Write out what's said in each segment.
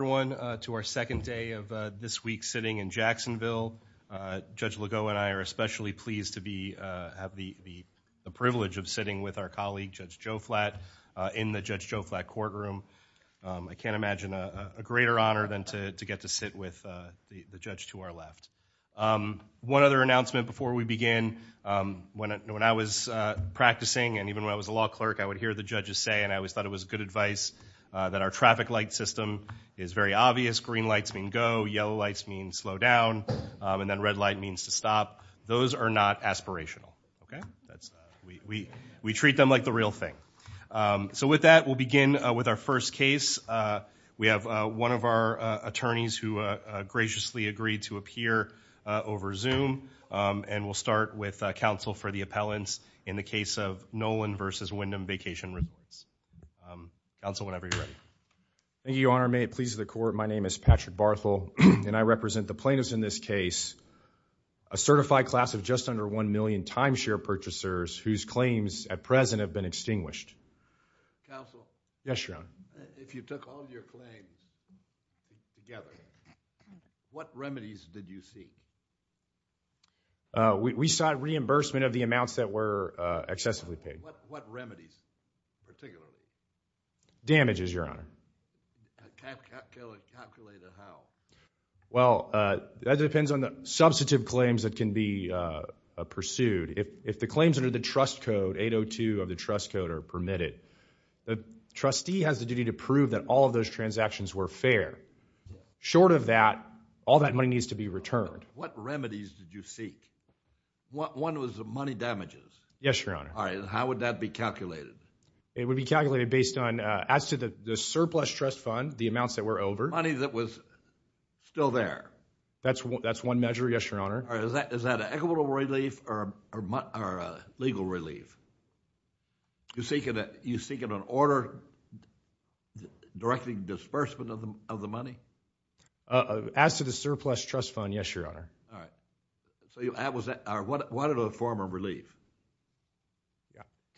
to our second day of this week's sitting in Jacksonville. Judge Legault and I are especially pleased to have the privilege of sitting with our colleague, Judge Joe Flatt, in the Judge Joe Flatt courtroom. I can't imagine a greater honor than to get to sit with the judge to our left. One other announcement before we begin. When I was practicing, and even when I was a law clerk, I would hear the judges say, and I always thought it was good advice, that our traffic light system is very obvious. Green lights mean go, yellow lights mean slow down, and then red light means to stop. Those are not aspirational, okay? That's, we treat them like the real thing. So with that, we'll begin with our first case. We have one of our attorneys who graciously agreed to appear over Zoom, and we'll start with counsel for the appellants in the case of Nolen v. Wyndham Vacation Resorts. Counsel, whenever you're ready. Thank you, Your Honor. May it please the court, my name is Patrick Barthel, and I represent the plaintiffs in this case, a certified class of just under one million timeshare purchasers whose claims at present have been extinguished. Counsel? Yes, Your Honor. If you took all your claims together, what remedies did you see? We saw reimbursement of the amounts that were excessively paid. What remedies, particularly? Damages, Your Honor. Calculated how? Well, that depends on the substantive claims that can be pursued. If the claims under the trust code, 802 of the trust code are permitted, the trustee has the duty to prove that all of those transactions were fair. Short of that, all that money needs to be returned. What remedies did you seek? One was the money damages. Yes, Your Honor. All right, and how would that be calculated? It would be calculated based on, as to the surplus trust fund, the amounts that were over. Money that was still there. That's one measure, yes, Your Honor. Is that equitable relief or legal relief? You're seeking an order directing disbursement of the money? As to the surplus trust fund, yes, Your Honor. All right, so what other form of relief?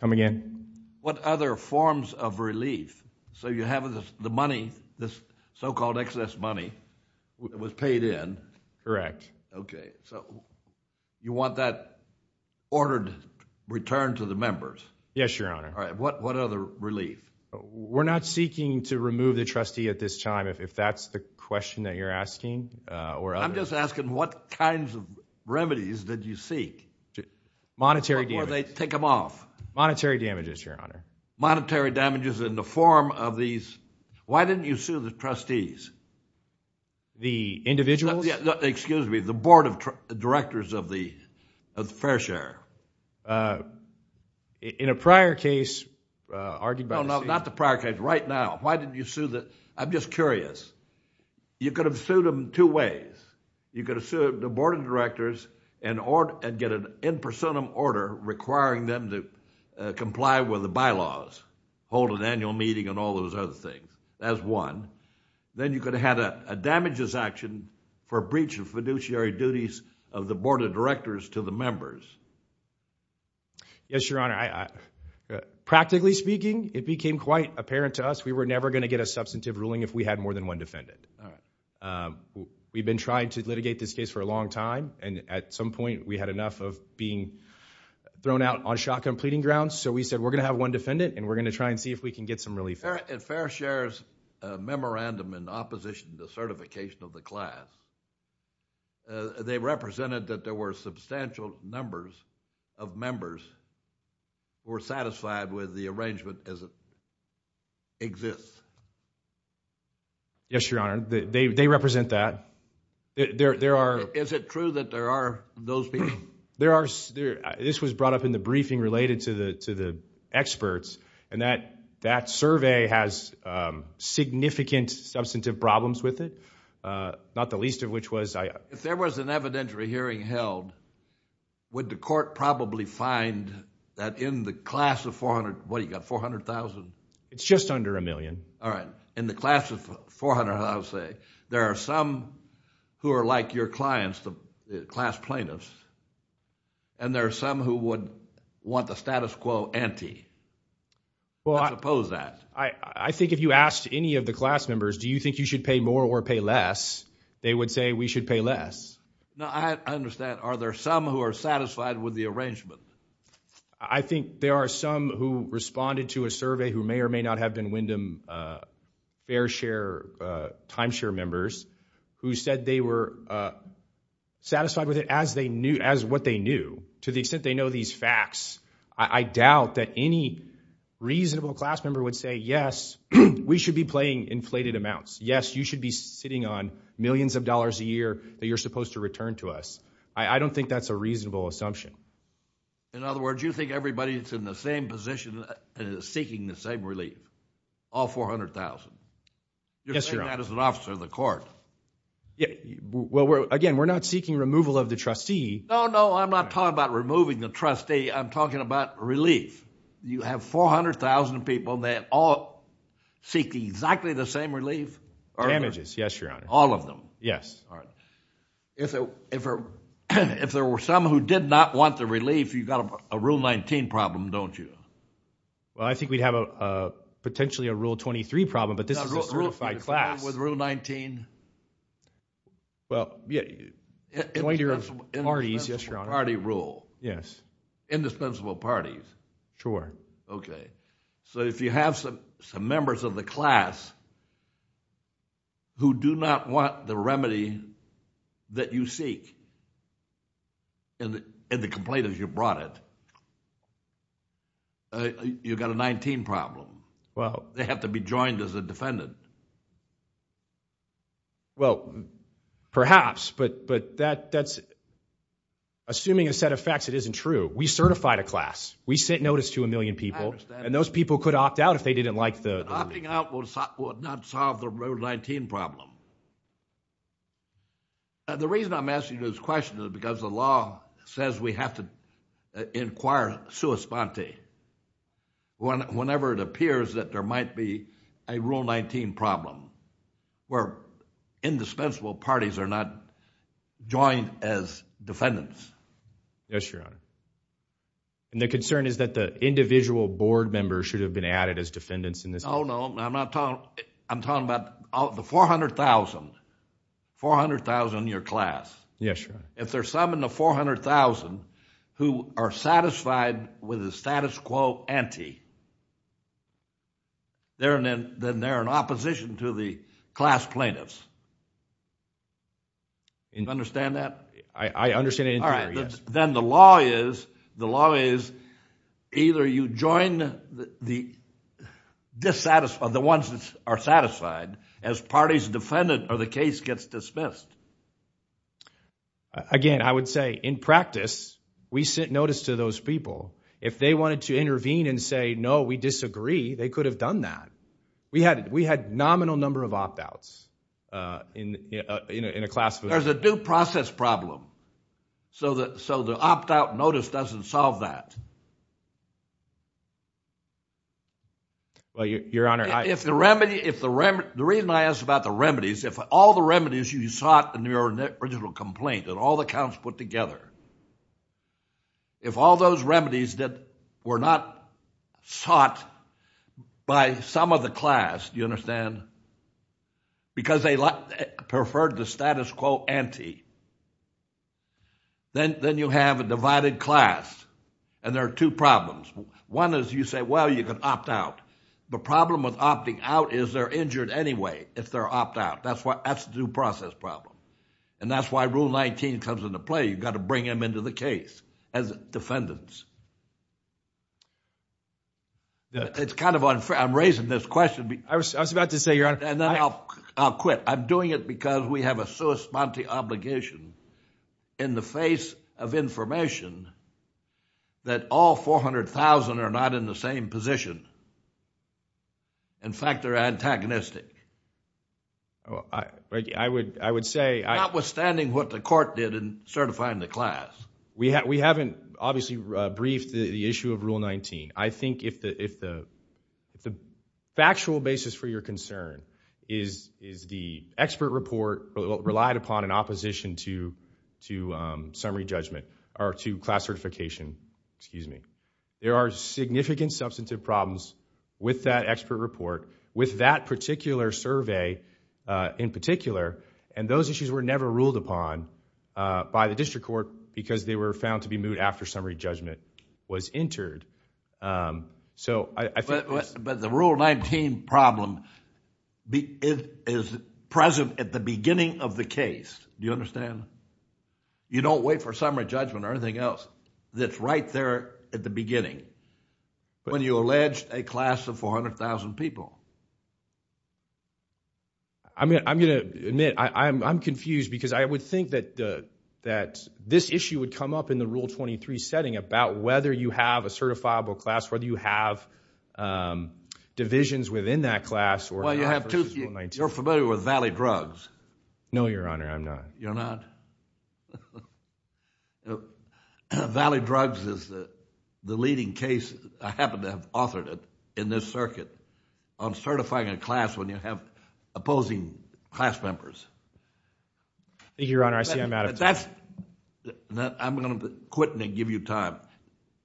Come again? What other forms of relief? So you have the money, this so-called excess money that was paid in. Correct. Okay, so you want that ordered return to the members? Yes, Your Honor. All right, what other relief? We're not seeking to remove the trustee at this time, if that's the question that you're asking. I'm just asking what kinds of remedies did you seek? Monetary damages. Or they take them off. Monetary damages, Your Honor. Monetary damages in the form of these. Why didn't you sue the trustees? The individuals? Excuse me, the board of directors of the fair share. In a prior case, argued by the state. No, not the prior case, right now. Why didn't you sue the, I'm just curious. You could have sued them two ways. You could have sued the board of directors and get an in personam order requiring them to comply with the bylaws, hold an annual meeting and all those other things, that's one. Then you could have had a damages action for breach of fiduciary duties of the board of directors to the members. Yes, Your Honor. Practically speaking, it became quite apparent to us we were never gonna get a substantive ruling if we had more than one defendant. We've been trying to litigate this case for a long time and at some point we had enough of being thrown out on shotgun pleading grounds, so we said we're gonna have one defendant and we're gonna try and see if we can get some relief. At fair share's memorandum in opposition to certification of the class, they represented that there were substantial numbers of members who were satisfied with the arrangement as it exists. Yes, Your Honor, they represent that. There are... Is it true that there are those people? There are, this was brought up in the briefing related to the experts and that survey has significant substantive problems with it, not the least of which was... If there was an evidentiary hearing held, would the court probably find that in the class of 400, what do you got, 400,000? It's just under a million. All right, in the class of 400,000, I would say, there are some who are like your clients, the class plaintiffs, and there are some who would want the status quo ante. Well, I... Let's oppose that. I think if you asked any of the class members, do you think you should pay more or pay less, they would say we should pay less. No, I understand. Are there some who are satisfied with the arrangement? I think there are some who responded to a survey who may or may not have been Wyndham fair share, timeshare members, who said they were satisfied with it as they knew, as what they knew, to the extent they know these facts. I doubt that any reasonable class member would say, yes, we should be playing inflated amounts. Yes, you should be sitting on millions of dollars a year that you're supposed to return to us. I don't think that's a reasonable assumption. In other words, you think everybody's in the same position and is seeking the same relief, all 400,000. Yes, Your Honor. You're saying that as an officer of the court. Well, again, we're not seeking removal of the trustee. No, no, I'm not talking about removing the trustee. I'm talking about relief. You have 400,000 people that all seek exactly the same relief. Damages, yes, Your Honor. All of them. Yes. If there were some who did not want the relief, you've got a Rule 19 problem, don't you? Well, I think we'd have potentially a Rule 23 problem, but this is a certified class. With Rule 19? Well, yeah, 20 year of parties, yes, Your Honor. Indispensable party rule. Yes. Indispensable parties. Sure. OK. So if you have some members of the class who do not want the remedy that you seek and the complaint is you brought it, you've got a 19 problem. They have to be joined as a defendant. Well, perhaps, but assuming a set of facts, it isn't true. We certified a class. We sent notice to a million people, and those people could opt out if they didn't like the. Opting out would not solve the Rule 19 problem. The reason I'm asking this question is because the law says we have to inquire sui sponte whenever it appears that there might be a Rule 19 problem, where indispensable parties are not joined as defendants. Yes, Your Honor. And the concern is that the individual board members should have been added as defendants in this case. No, no. I'm talking about the 400,000, 400,000 in your class. Yes, Your Honor. If there's some in the 400,000 who are satisfied with the status quo ante, then they're in opposition to the class plaintiffs. Do you understand that? I understand it entirely, yes. Then the law is either you join the ones that are satisfied as parties defendant, or the case gets dismissed. Again, I would say, in practice, we sent notice to those people. If they wanted to intervene and say, no, we disagree, they could have done that. We had nominal number of opt-outs in a class. There's a due process problem, so the opt-out notice doesn't solve that. Well, Your Honor, I- If the remedy, if the remedy, the reason I asked about the remedies, if all the remedies you sought in your original complaint and all the counts put together, if all those remedies that were not sought by some of the class, do you understand, because they preferred the status quo ante, then you have a divided class. And there are two problems. One is you say, well, you can opt out. The problem with opting out is they're injured anyway if they're opt-out. That's the due process problem. And that's why Rule 19 comes into play. You've got to bring them into the case as defendants. It's kind of unfair. I'm raising this question because- I was about to say, Your Honor- And then I'll quit. I'm doing it because we have a sui sponte obligation in the face of information that all 400,000 are not in the same position. In fact, they're antagonistic. I would say- Notwithstanding what the court did in certifying the class. We haven't, obviously, briefed the issue of Rule 19. I think if the factual basis for your concern is the expert report relied upon in opposition to summary judgment or to class certification, excuse me, there are significant substantive problems with that expert report, with that particular survey in particular, and those issues were never ruled upon by the district court because they were found to be moved after summary judgment was entered. So I think- But the Rule 19 problem is present at the beginning of the case. Do you understand? You don't wait for summary judgment or anything else that's right there at the beginning when you allege a class of 400,000 people. I'm going to admit I'm confused because I would think that this issue would come up in the Rule 23 setting about whether you have a certifiable class, whether you have divisions within that class or- Well, you have two. You're familiar with Valley Drugs. No, Your Honor, I'm not. You're not? Valley Drugs is the leading case. I happen to have authored it in this circuit on certifying a class when you have opposing class members. Thank you, Your Honor. I see I'm out of time. I'm going to quit and give you time,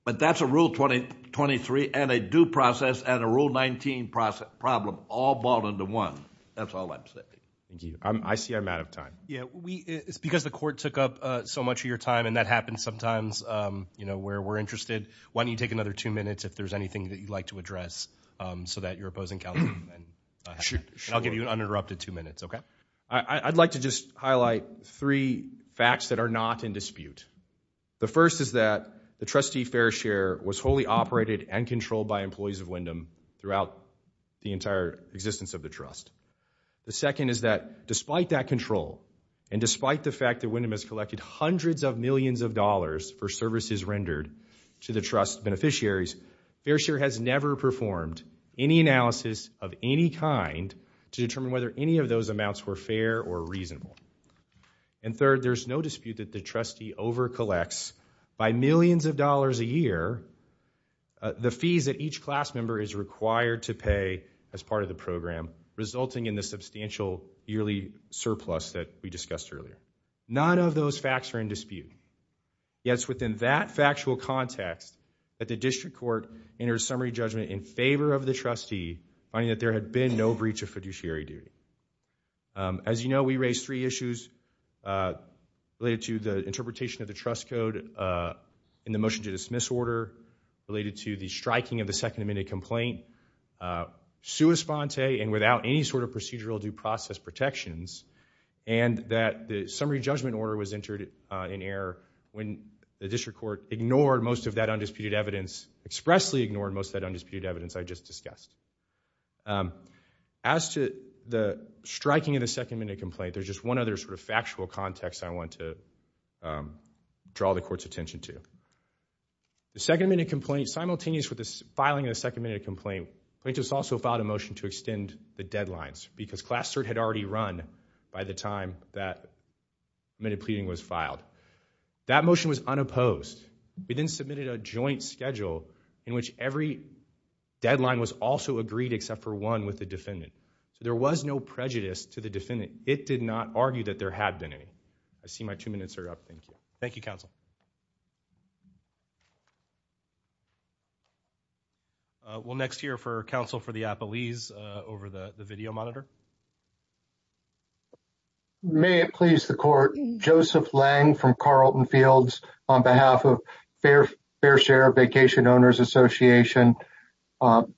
but that's a Rule 23 and a due process and a Rule 19 problem all balled into one. That's all I'm saying. Thank you. I see I'm out of time. Yeah, it's because the court took up so much of your time and that happens sometimes where we're interested. Why don't you take another two minutes if there's anything that you'd like to address so that your opposing counsel can then- Sure. I'll give you an uninterrupted two minutes, okay? I'd like to just highlight three facts that are not in dispute. The first is that the trustee fair share was wholly operated and controlled by employees of Wyndham throughout the entire existence of the trust. The second is that despite that control and despite the fact that Wyndham has collected hundreds of millions of dollars for services rendered to the trust beneficiaries, fair share has never performed any analysis of any kind to determine whether any of those amounts were fair or reasonable. And third, there's no dispute that the trustee over collects by millions of dollars a year the fees that each class member is required to pay as part of the program, resulting in the substantial yearly surplus that we discussed earlier. None of those facts are in dispute, yet it's within that factual context that the district court enters summary judgment in favor of the trustee, finding that there had been no breach of fiduciary duty. As you know, we raised three issues related to the interpretation of the trust code in the motion to dismiss order, related to the striking of the Second Amendment complaint, sua sponte and without any sort of procedural due process protections, and that the summary judgment order was entered in error when the district court ignored most of that undisputed evidence, expressly ignored most of that undisputed evidence I just discussed. As to the striking of the Second Amendment complaint, there's just one other sort of factual context I want to draw the court's attention to. The Second Amendment complaint, simultaneous with the filing of the Second Amendment complaint, plaintiffs also filed a motion to extend the deadlines because class third had already run by the time that amended pleading was filed. That motion was unopposed. We then submitted a joint schedule in which every deadline was also agreed except for one with the defendant. So there was no prejudice to the defendant. It did not argue that there had been any. I see my two minutes are up, thank you. Thank you, counsel. We'll next hear for counsel for the appellees over the video monitor. May it please the court, Joseph Lang from Carlton Fields on behalf of Fair Share Vacation Owners Association.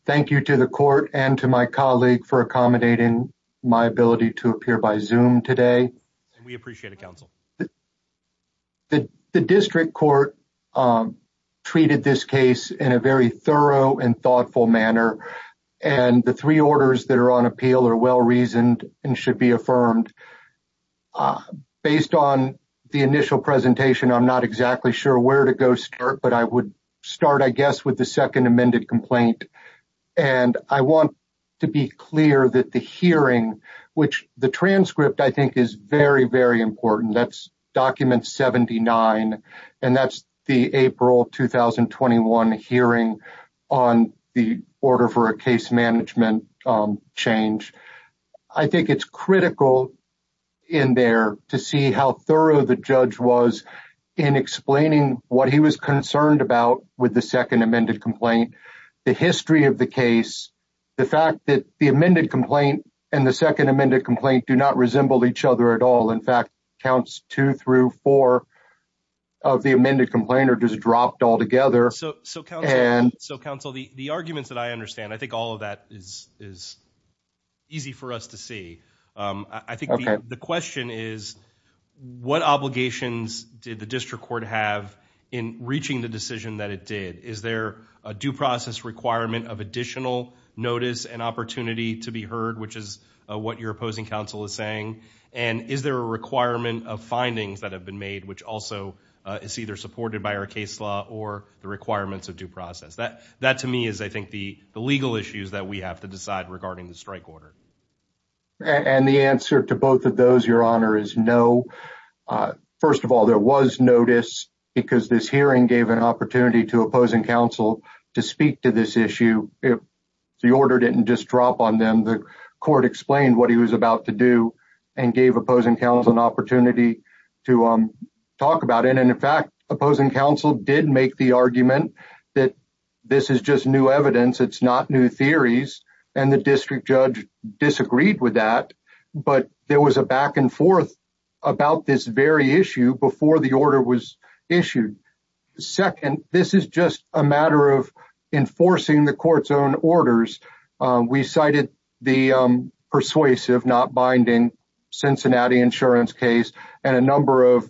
Thank you to the court and to my colleague for accommodating my ability to appear by Zoom today. We appreciate it, counsel. The district court treated this case in a very thorough and thoughtful manner. And the three orders that are on appeal are well-reasoned and should be affirmed. Based on the initial presentation, I'm not exactly sure where to go start, but I would start, I guess, with the Second Amendment complaint. And I want to be clear that the hearing, which the transcript I think is very, very important. That's document 79, and that's the April 2021 hearing on the order for a case management change. I think it's critical in there to see how thorough the judge was in explaining what he was concerned about with the Second Amendment complaint, the history of the case, the fact that the amended complaint and the Second Amendment complaint do not resemble each other at all. In fact, counts two through four of the amended complaint are just dropped altogether. So counsel, the arguments that I understand, I think all of that is easy for us to see. I think the question is, what obligations did the district court have in reaching the decision that it did? Is there a due process requirement of additional notice and opportunity to be heard, which is what your opposing counsel is saying? And is there a requirement of findings that have been made, which also is either supported by our case law or the requirements of due process? That to me is, I think, the legal issues that we have to decide regarding the strike order. And the answer to both of those, your honor, is no. First of all, there was notice because this hearing gave an opportunity to opposing counsel to speak to this issue. The order didn't just drop on them. The court explained what he was about to do and gave opposing counsel an opportunity to talk about it. And in fact, opposing counsel did make the argument that this is just new evidence. It's not new theories. And the district judge disagreed with that, but there was a back and forth about this very issue before the order was issued. Second, this is just a matter of enforcing the court's own orders. We cited the persuasive, not binding Cincinnati insurance case and a number of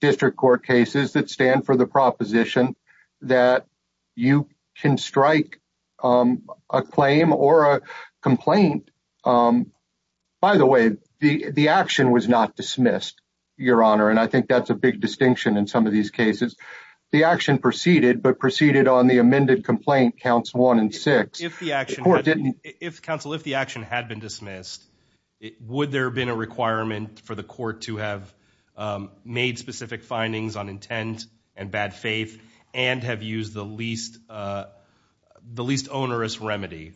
district court cases that stand for the proposition that you can strike a claim or a complaint. By the way, the action was not dismissed, your honor. And I think that's a big distinction in some of these cases. The action proceeded, but proceeded on the amended complaint, counts one and six. If the action had been dismissed, would there have been a requirement for the court to have made specific findings on intent and bad faith and have used the least onerous remedy?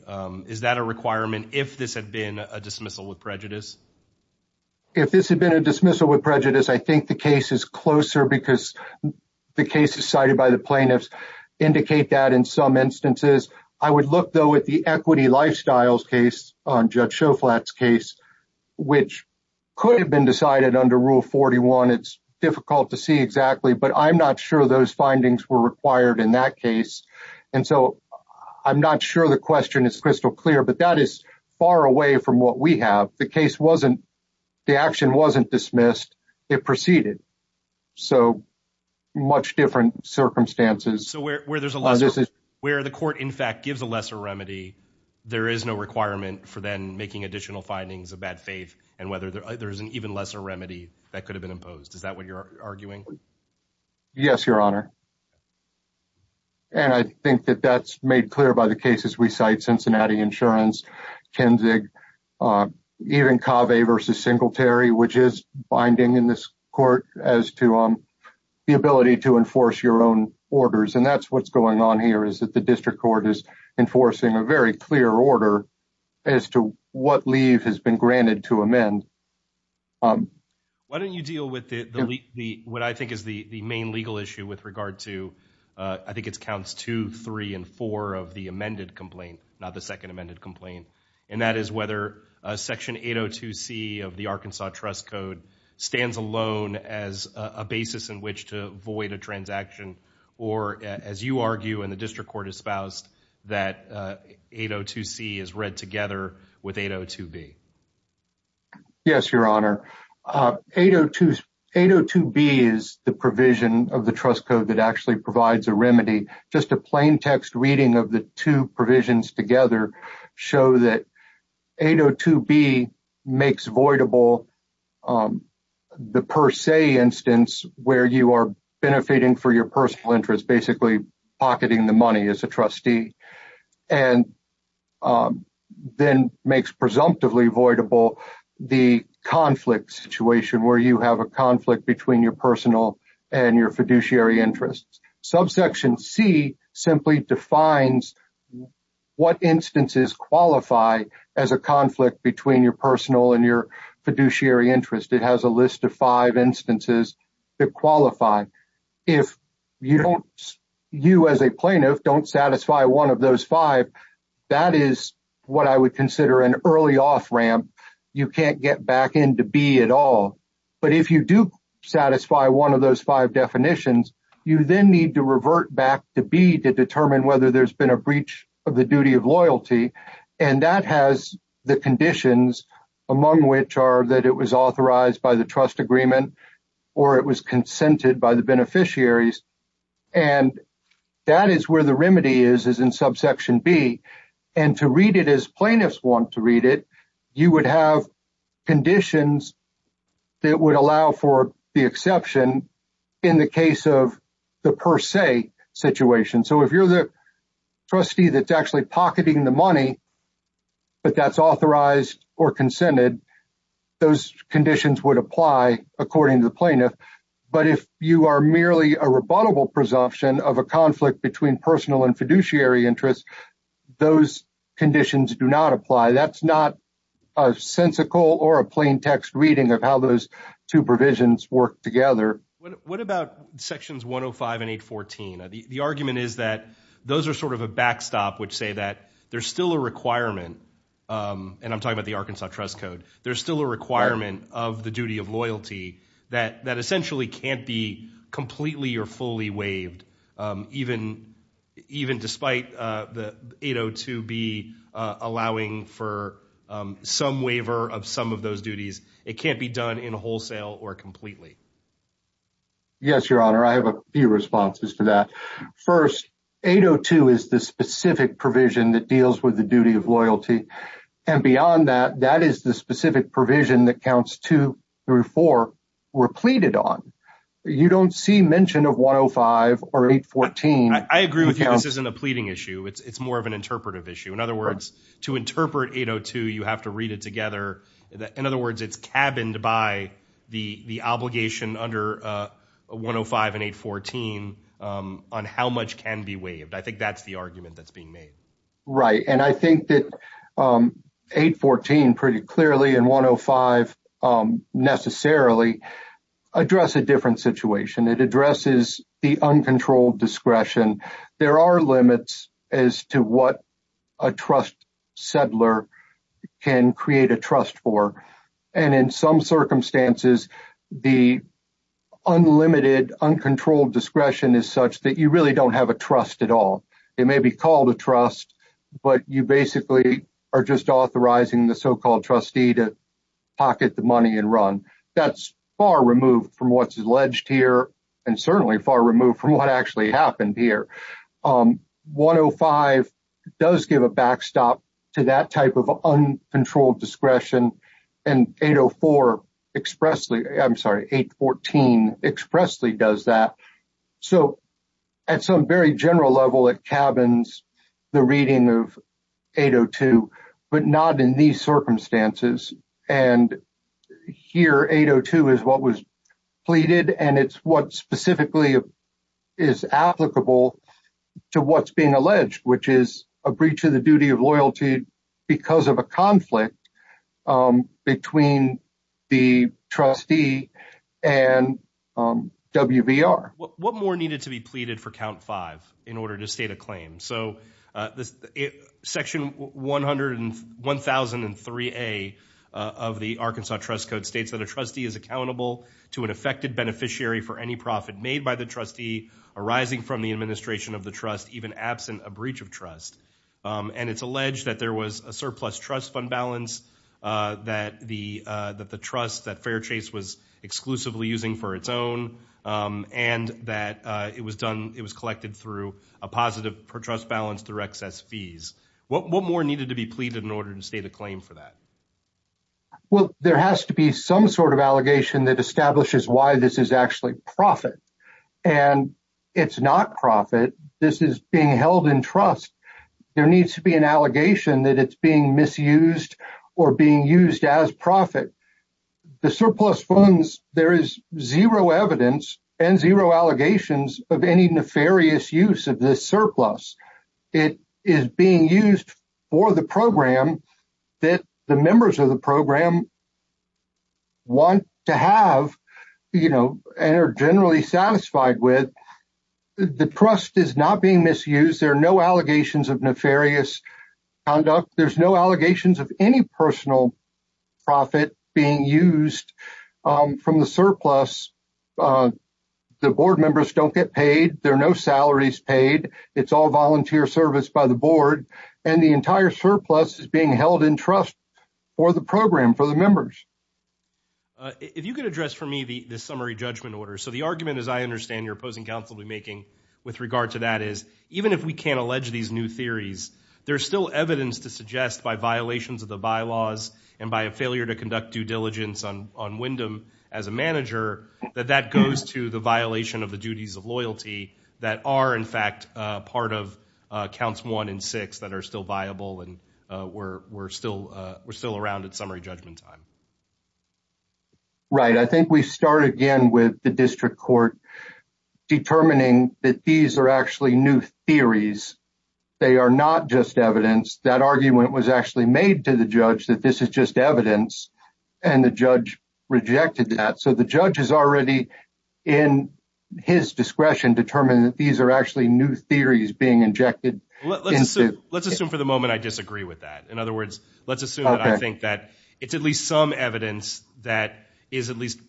Is that a requirement if this had been a dismissal with prejudice? If this had been a dismissal with prejudice, I think the case is closer because the cases cited by the plaintiffs indicate that in some instances. I would look though at the equity lifestyles case on Judge Shoflat's case, which could have been decided under rule 41. It's difficult to see exactly, but I'm not sure those findings were required in that case. And so I'm not sure the question is crystal clear, but that is far away from what we have. The case wasn't, the action wasn't dismissed, it proceeded. So much different circumstances. So where the court in fact gives a lesser remedy, there is no requirement for then making additional findings of bad faith and whether there's an even lesser remedy that could have been imposed. Is that what you're arguing? Yes, your honor. And I think that that's made clear by the cases we cite, Cincinnati Insurance, Kinzig, even Cave versus Singletary, which is binding in this court as to the ability to enforce your own orders. And that's what's going on here is that the district court is enforcing a very clear order as to what leave has been granted to amend. Why don't you deal with the, what I think is the main legal issue with regard to, I think it's counts two, three, and four of the amended complaint, not the second amended complaint. And that is whether a section 802 C of the Arkansas trust code stands alone as a basis in which to void a transaction, or as you argue in the district court espoused that 802 C is read together with 802 B. Yes, your honor. 802 B is the provision of the trust code that actually provides a remedy. Just a plain text reading of the two provisions together show that 802 B makes voidable the per se instance where you are benefiting for your personal interests, basically pocketing the money as a trustee, and then makes presumptively voidable the conflict situation where you have a conflict between your personal and your fiduciary interests. Subsection C simply defines what instances qualify as a conflict between your personal and your fiduciary interest. It has a list of five instances that qualify. If you as a plaintiff don't satisfy one of those five, that is what I would consider an early off ramp. You can't get back into B at all. But if you do satisfy one of those five definitions, you then need to revert back to B to determine whether there's been a breach of the duty of loyalty. And that has the conditions among which are that it was authorized by the trust agreement, or it was consented by the beneficiaries. And that is where the remedy is, is in subsection B. And to read it as plaintiffs want to read it, you would have conditions that would allow for the exception in the case of the per se situation. So if you're the trustee that's actually pocketing the money, but that's authorized or consented, those conditions would apply according to the plaintiff. But if you are merely a rebuttable presumption of a conflict between personal and fiduciary interest, those conditions do not apply. That's not a sensical or a plain text reading of how those two provisions work together. What about sections 105 and 814? The argument is that those are sort of a backstop, which say that there's still a requirement. And I'm talking about the Arkansas Trust Code. There's still a requirement of the duty of loyalty that essentially can't be completely or fully waived. Even despite the 802B allowing for some waiver of some of those duties, it can't be done in wholesale or completely. Yes, Your Honor. I have a few responses to that. First, 802 is the specific provision that deals with the duty of loyalty. And beyond that, that is the specific provision that counts two through four were pleaded on. You don't see mention of 105 or 814. I agree with you. This isn't a pleading issue. It's more of an interpretive issue. In other words, to interpret 802, you have to read it together. In other words, it's cabined by the obligation under 105 and 814 on how much can be waived. I think that's the argument that's being made. Right, and I think that 814 pretty clearly and 105 necessarily address a different situation. It addresses the uncontrolled discretion. There are limits as to what a trust settler can create a trust for. And in some circumstances, the unlimited uncontrolled discretion is such that you really don't have a trust at all. It may be called a trust, but you basically are just authorizing the so-called trustee to pocket the money and run. That's far removed from what's alleged here and certainly far removed from what actually happened here. 105 does give a backstop to that type of uncontrolled discretion and 804 expressly, I'm sorry, 814 expressly does that. So at some very general level, it cabins the reading of 802, but not in these circumstances. And here 802 is what was pleaded and it's what specifically is applicable to what's being alleged, which is a breach of the duty of loyalty because of a conflict between the trustee and WVR. What more needed to be pleaded for count five in order to state a claim? So section 100 and 1003A of the Arkansas Trust Code states that a trustee is accountable to an affected beneficiary for any profit made by the trustee arising from the administration of the trust, even absent a breach of trust. And it's alleged that there was a surplus trust fund balance that the trust that Fairchase was exclusively using for its own and that it was collected through a positive trust balance through excess fees. What more needed to be pleaded in order to state a claim for that? Well, there has to be some sort of allegation that establishes why this is actually profit and it's not profit. This is being held in trust. There needs to be an allegation that it's being misused or being used as profit. The surplus funds, there is zero evidence and zero allegations of any nefarious use of this surplus. It is being used for the program that the members of the program want to have, you know, and are generally satisfied with. The trust is not being misused. There are no allegations of nefarious conduct. There's no allegations of any personal profit being used from the surplus. The board members don't get paid. There are no salaries paid. It's all volunteer service by the board. And the entire surplus is being held in trust for the program, for the members. If you could address for me the summary judgment order. So the argument, as I understand, your opposing counsel will be making with regard to that is even if we can't allege these new theories, there's still evidence to suggest by violations of the bylaws and by a failure to conduct due diligence on Wyndham as a manager, that that goes to the violation of the duties of loyalty that are in fact part of counts one and six that are still viable and we're still around at summary judgment time. Right. I think we start again with the district court determining that these are actually new theories. They are not just evidence. That argument was actually made to the judge that this is just evidence. And the judge rejected that. So the judge is already in his discretion determining that these are actually new theories being injected into. Let's assume for the moment I disagree with that. In other words, let's assume that I think that it's at least some evidence that is at least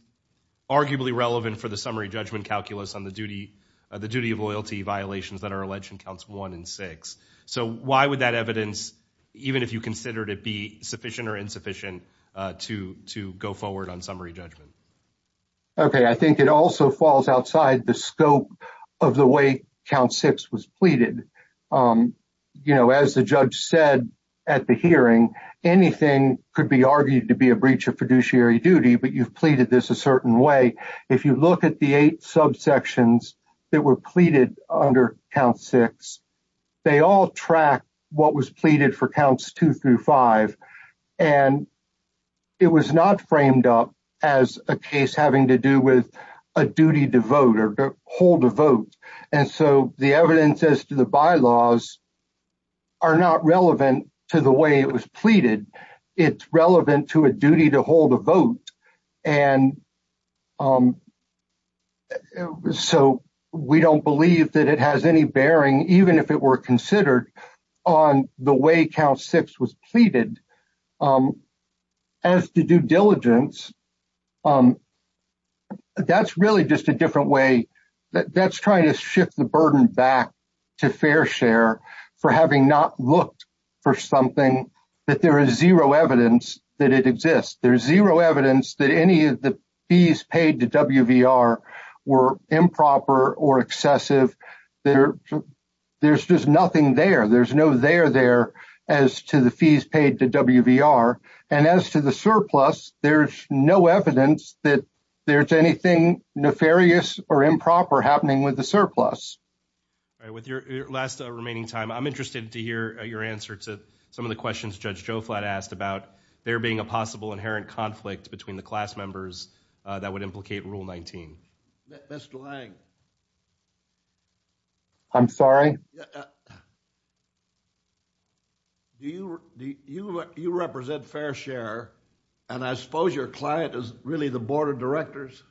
arguably relevant for the summary judgment calculus on the duty of loyalty violations that are alleged in counts one and six. So why would that evidence, even if you considered it be sufficient or insufficient to go forward on summary judgment? Okay, I think it also falls outside the scope of the way count six was pleaded. As the judge said at the hearing, anything could be argued to be a breach of fiduciary duty, but you've pleaded this a certain way. If you look at the eight subsections that were pleaded under count six, they all track what was pleaded for counts two through five. And it was not framed up as a case having to do with a duty to vote or hold a vote. And so the evidence as to the bylaws are not relevant to the way it was pleaded. It's relevant to a duty to hold a vote. And so we don't believe that it has any bearing, even if it were considered on the way count six was pleaded as to due diligence. That's really just a different way. That's trying to shift the burden back to fair share for having not looked for something that there is zero evidence that it exists. There's zero evidence that any of the fees paid to WVR were improper or excessive. There's just nothing there. There's no there there as to the fees paid to WVR. And as to the surplus, there's no evidence that there's anything nefarious or improper happening with the surplus. All right, with your last remaining time, I'm interested to hear your answer to some of the questions Judge Joflat asked about there being a possible inherent conflict between the class members that would implicate rule 19. Mr. Lang. I'm sorry. You represent fair share, and I suppose your client is really the board of directors.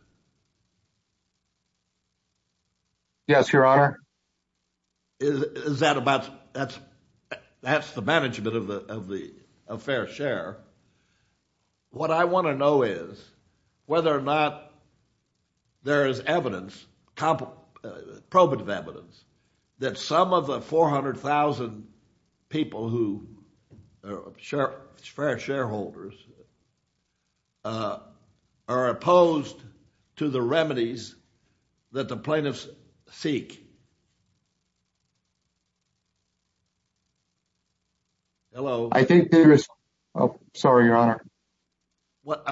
Yes, Your Honor. Is that about, that's the management of the fair share. What I want to know is whether or not there is evidence, probative evidence, that some of the 400,000 people who are fair shareholders are opposed to the remedies that the plaintiffs seek. Hello. I think there is, oh, sorry, Your Honor. What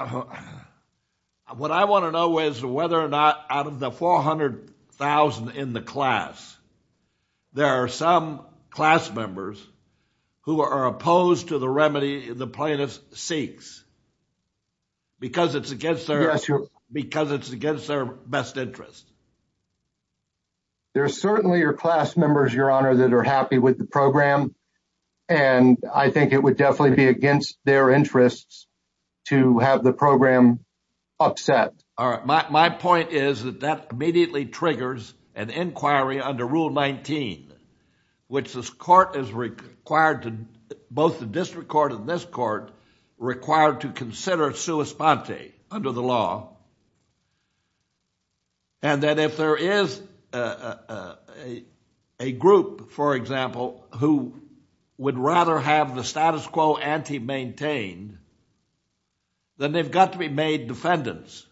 I want to know is whether or not out of the 400,000 in the class, there are some class members who are opposed to the remedy the plaintiffs seeks because it's against their, because it's against their best interest. There are certainly your class members, Your Honor, that are happy with the program, and I think it would definitely be against their interests to have the program upset. All right, my point is that that immediately triggers an inquiry under rule 19, which this court is required to, both the district court and this court, required to consider sua sponte under the law. And that if there is a group, for example, who would rather have the status quo anti-maintained, then they've got to be made defendants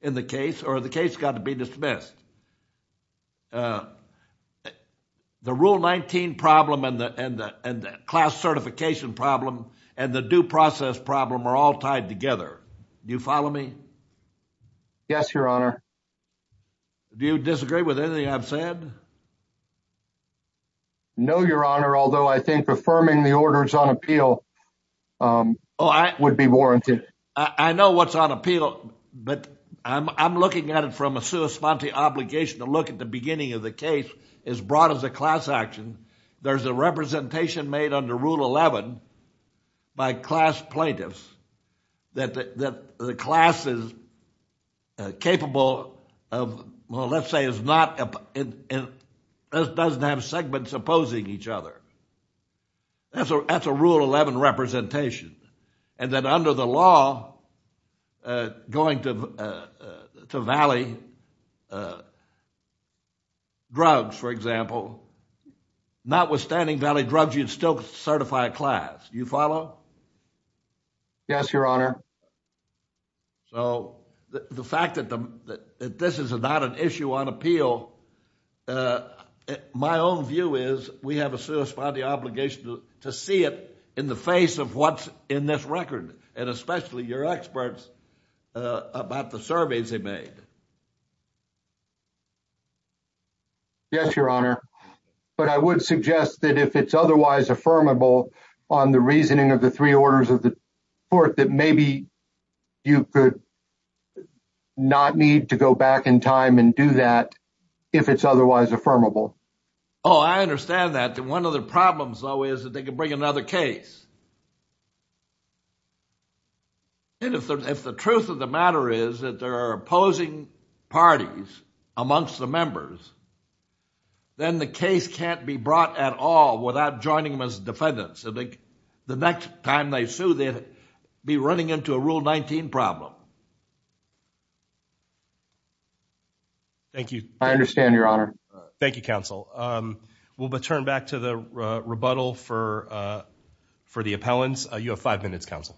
in the case or the case got to be dismissed. The rule 19 problem and the class certification problem and the due process problem are all tied together. Do you follow me? Yes, Your Honor. Do you disagree with anything I've said? No, Your Honor, although I think affirming the orders on appeal would be warranted. I know what's on appeal, but I'm looking at it from a sua sponte option standpoint. The obligation to look at the beginning of the case is brought as a class action. There's a representation made under rule 11 by class plaintiffs that the class is capable of, well, let's say it doesn't have segments opposing each other. That's a rule 11 representation. And then under the law, going to valley, drugs, for example, notwithstanding valley drugs, you'd still certify a class. You follow? Yes, Your Honor. So the fact that this is not an issue on appeal, my own view is we have a sua sponte obligation to see it in the face of what's in this record and especially your experts about the surveys they made. Yes, Your Honor. But I would suggest that if it's otherwise affirmable on the reasoning of the three orders of the court, that maybe you could not need to go back in time and do that if it's otherwise affirmable. Oh, I understand that. And one of the problems though is that they can bring another case. And if the truth of the matter is that there are opposing parties amongst the members, then the case can't be brought at all without joining them as defendants. The next time they sue, they'd be running into a rule 19 problem. Thank you. I understand, Your Honor. Thank you, counsel. We'll return back to the rebuttal for the appellants. You have five minutes, counsel.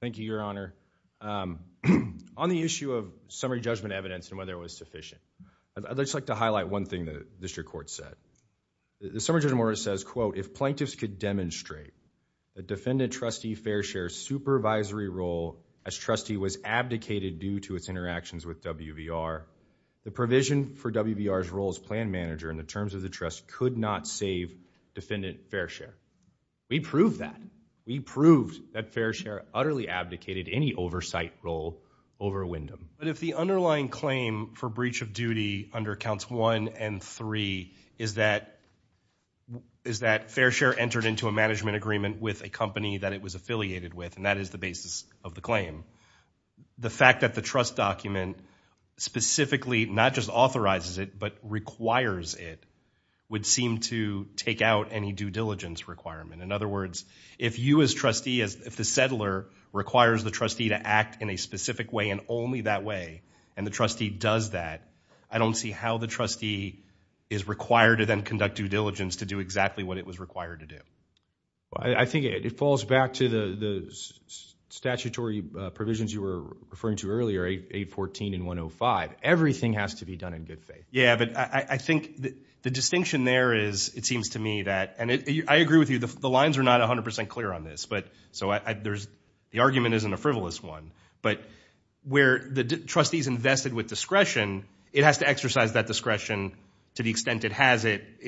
Thank you, Your Honor. On the issue of summary judgment evidence and whether it was sufficient, I'd just like to highlight one thing that the district court said. The summary judgment order says, quote, if plaintiffs could demonstrate the defendant trustee fair share supervisory role as trustee was abdicated due to its interactions with WVR, the provision for WVR's role as plan manager in the terms of the trust could not save defendant fair share. We proved that. We proved that fair share utterly abdicated any oversight role over Wyndham. But if the underlying claim for breach of duty under counts one and three is that fair share entered into a management agreement with a company that it was affiliated with, and that is the basis of the claim, the fact that the trust document specifically not just authorizes it but requires it would seem to take out any due diligence requirement. In other words, if you as trustee, if the settler requires the trustee to act in a specific way and only that way, and the trustee does that, I don't see how the trustee is required to then conduct due diligence to do exactly what it was required to do. Well, I think it falls back to the statutory provisions you were referring to earlier, 814 and 105. Everything has to be done in good faith. Yeah, but I think the distinction there is, it seems to me that, and I agree with you, the lines are not 100% clear on this, so the argument isn't a frivolous one, but where the trustee's invested with discretion, it has to exercise that discretion to the extent it has it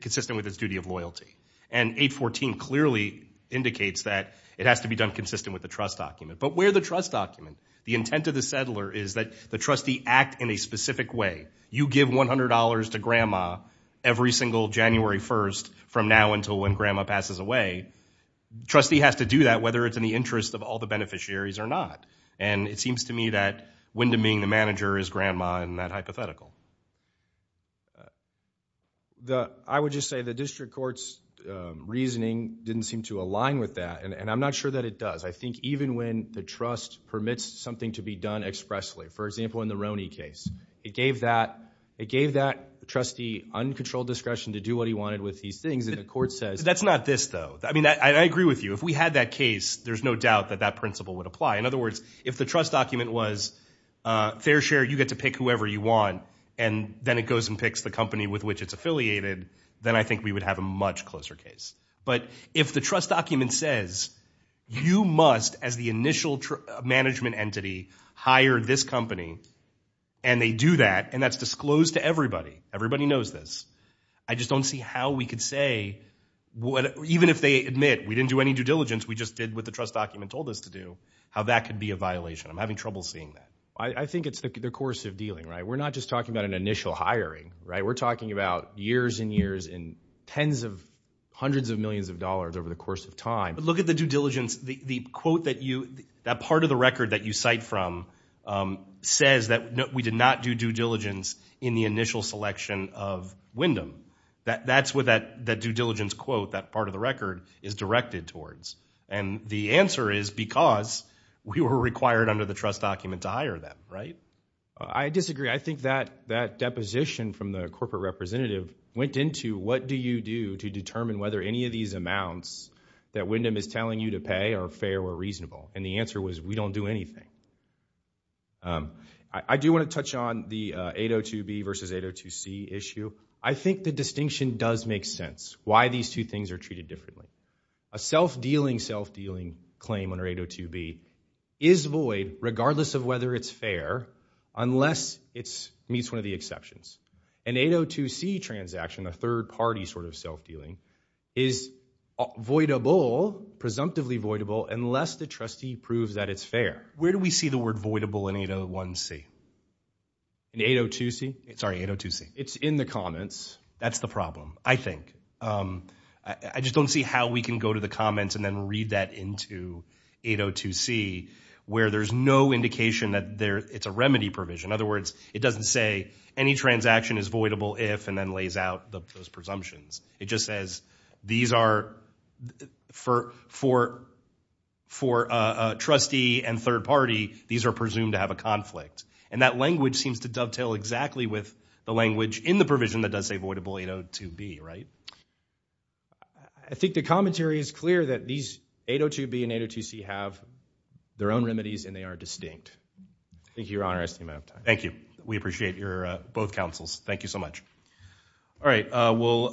consistent with its duty of loyalty. And 814 clearly indicates that it has to be done consistent with the trust document. But where the trust document, the intent of the settler is that the trustee act in a specific way. You give $100 to grandma every single January 1st from now until when grandma passes away, trustee has to do that whether it's in the interest of all the beneficiaries or not. And it seems to me that Wyndham being the manager is grandma in that hypothetical. I would just say the district court's reasoning didn't seem to align with that, and I'm not sure that it does. I think even when the trust permits something to be done expressly, for example, in the Roney case, it gave that trustee uncontrolled discretion to do what he wanted with these things, and the court says- that's not this though. I mean, I agree with you. If we had that case, there's no doubt that that principle would apply. In other words, if the trust document was fair share, you get to pick whoever you want, and then it goes and picks the company with which it's affiliated, then I think we would have a much closer case. But if the trust document says you must, as the initial management entity, hire this company, and they do that, and that's disclosed to everybody, everybody knows this, I just don't see how we could say even if they admit we didn't do any due diligence, we just did what the trust document told us to do, how that could be a violation. I'm having trouble seeing that. I think it's the course of dealing, right? We're not just talking about an initial hiring, right? We're talking about years and years and tens of hundreds of millions of dollars over the course of time. Look at the due diligence. The quote that you, that part of the record that you cite from says that we did not do due diligence in the initial selection of Wyndham. That's what that due diligence quote, that part of the record, is directed towards. And the answer is because we were required under the trust document to hire them, right? I disagree. I think that deposition from the corporate representative went into what do you do to determine whether any of these amounts that Wyndham is telling you to pay are fair or reasonable. And the answer was we don't do anything. I do wanna touch on the 802B versus 802C issue. I think the distinction does make sense, why these two things are treated differently. A self-dealing, self-dealing claim under 802B is void regardless of whether it's fair unless it meets one of the exceptions. An 802C transaction, a third party sort of self-dealing is voidable, presumptively voidable unless the trustee proves that it's fair. Where do we see the word voidable in 801C? In 802C? Sorry, 802C. It's in the comments. That's the problem, I think. I just don't see how we can go to the comments and then read that into 802C where there's no indication that it's a remedy provision. In other words, it doesn't say any transaction is voidable if and then lays out those presumptions. It just says these are for a trustee and third party, these are presumed to have a conflict. And that language seems to dovetail exactly with the language in the provision that does say voidable 802B, right? I think the commentary is clear that these 802B and 802C have their own remedies and they are distinct. Thank you, your honor, I seem to have time. Thank you. We appreciate both counsels. Thank you so much. All right.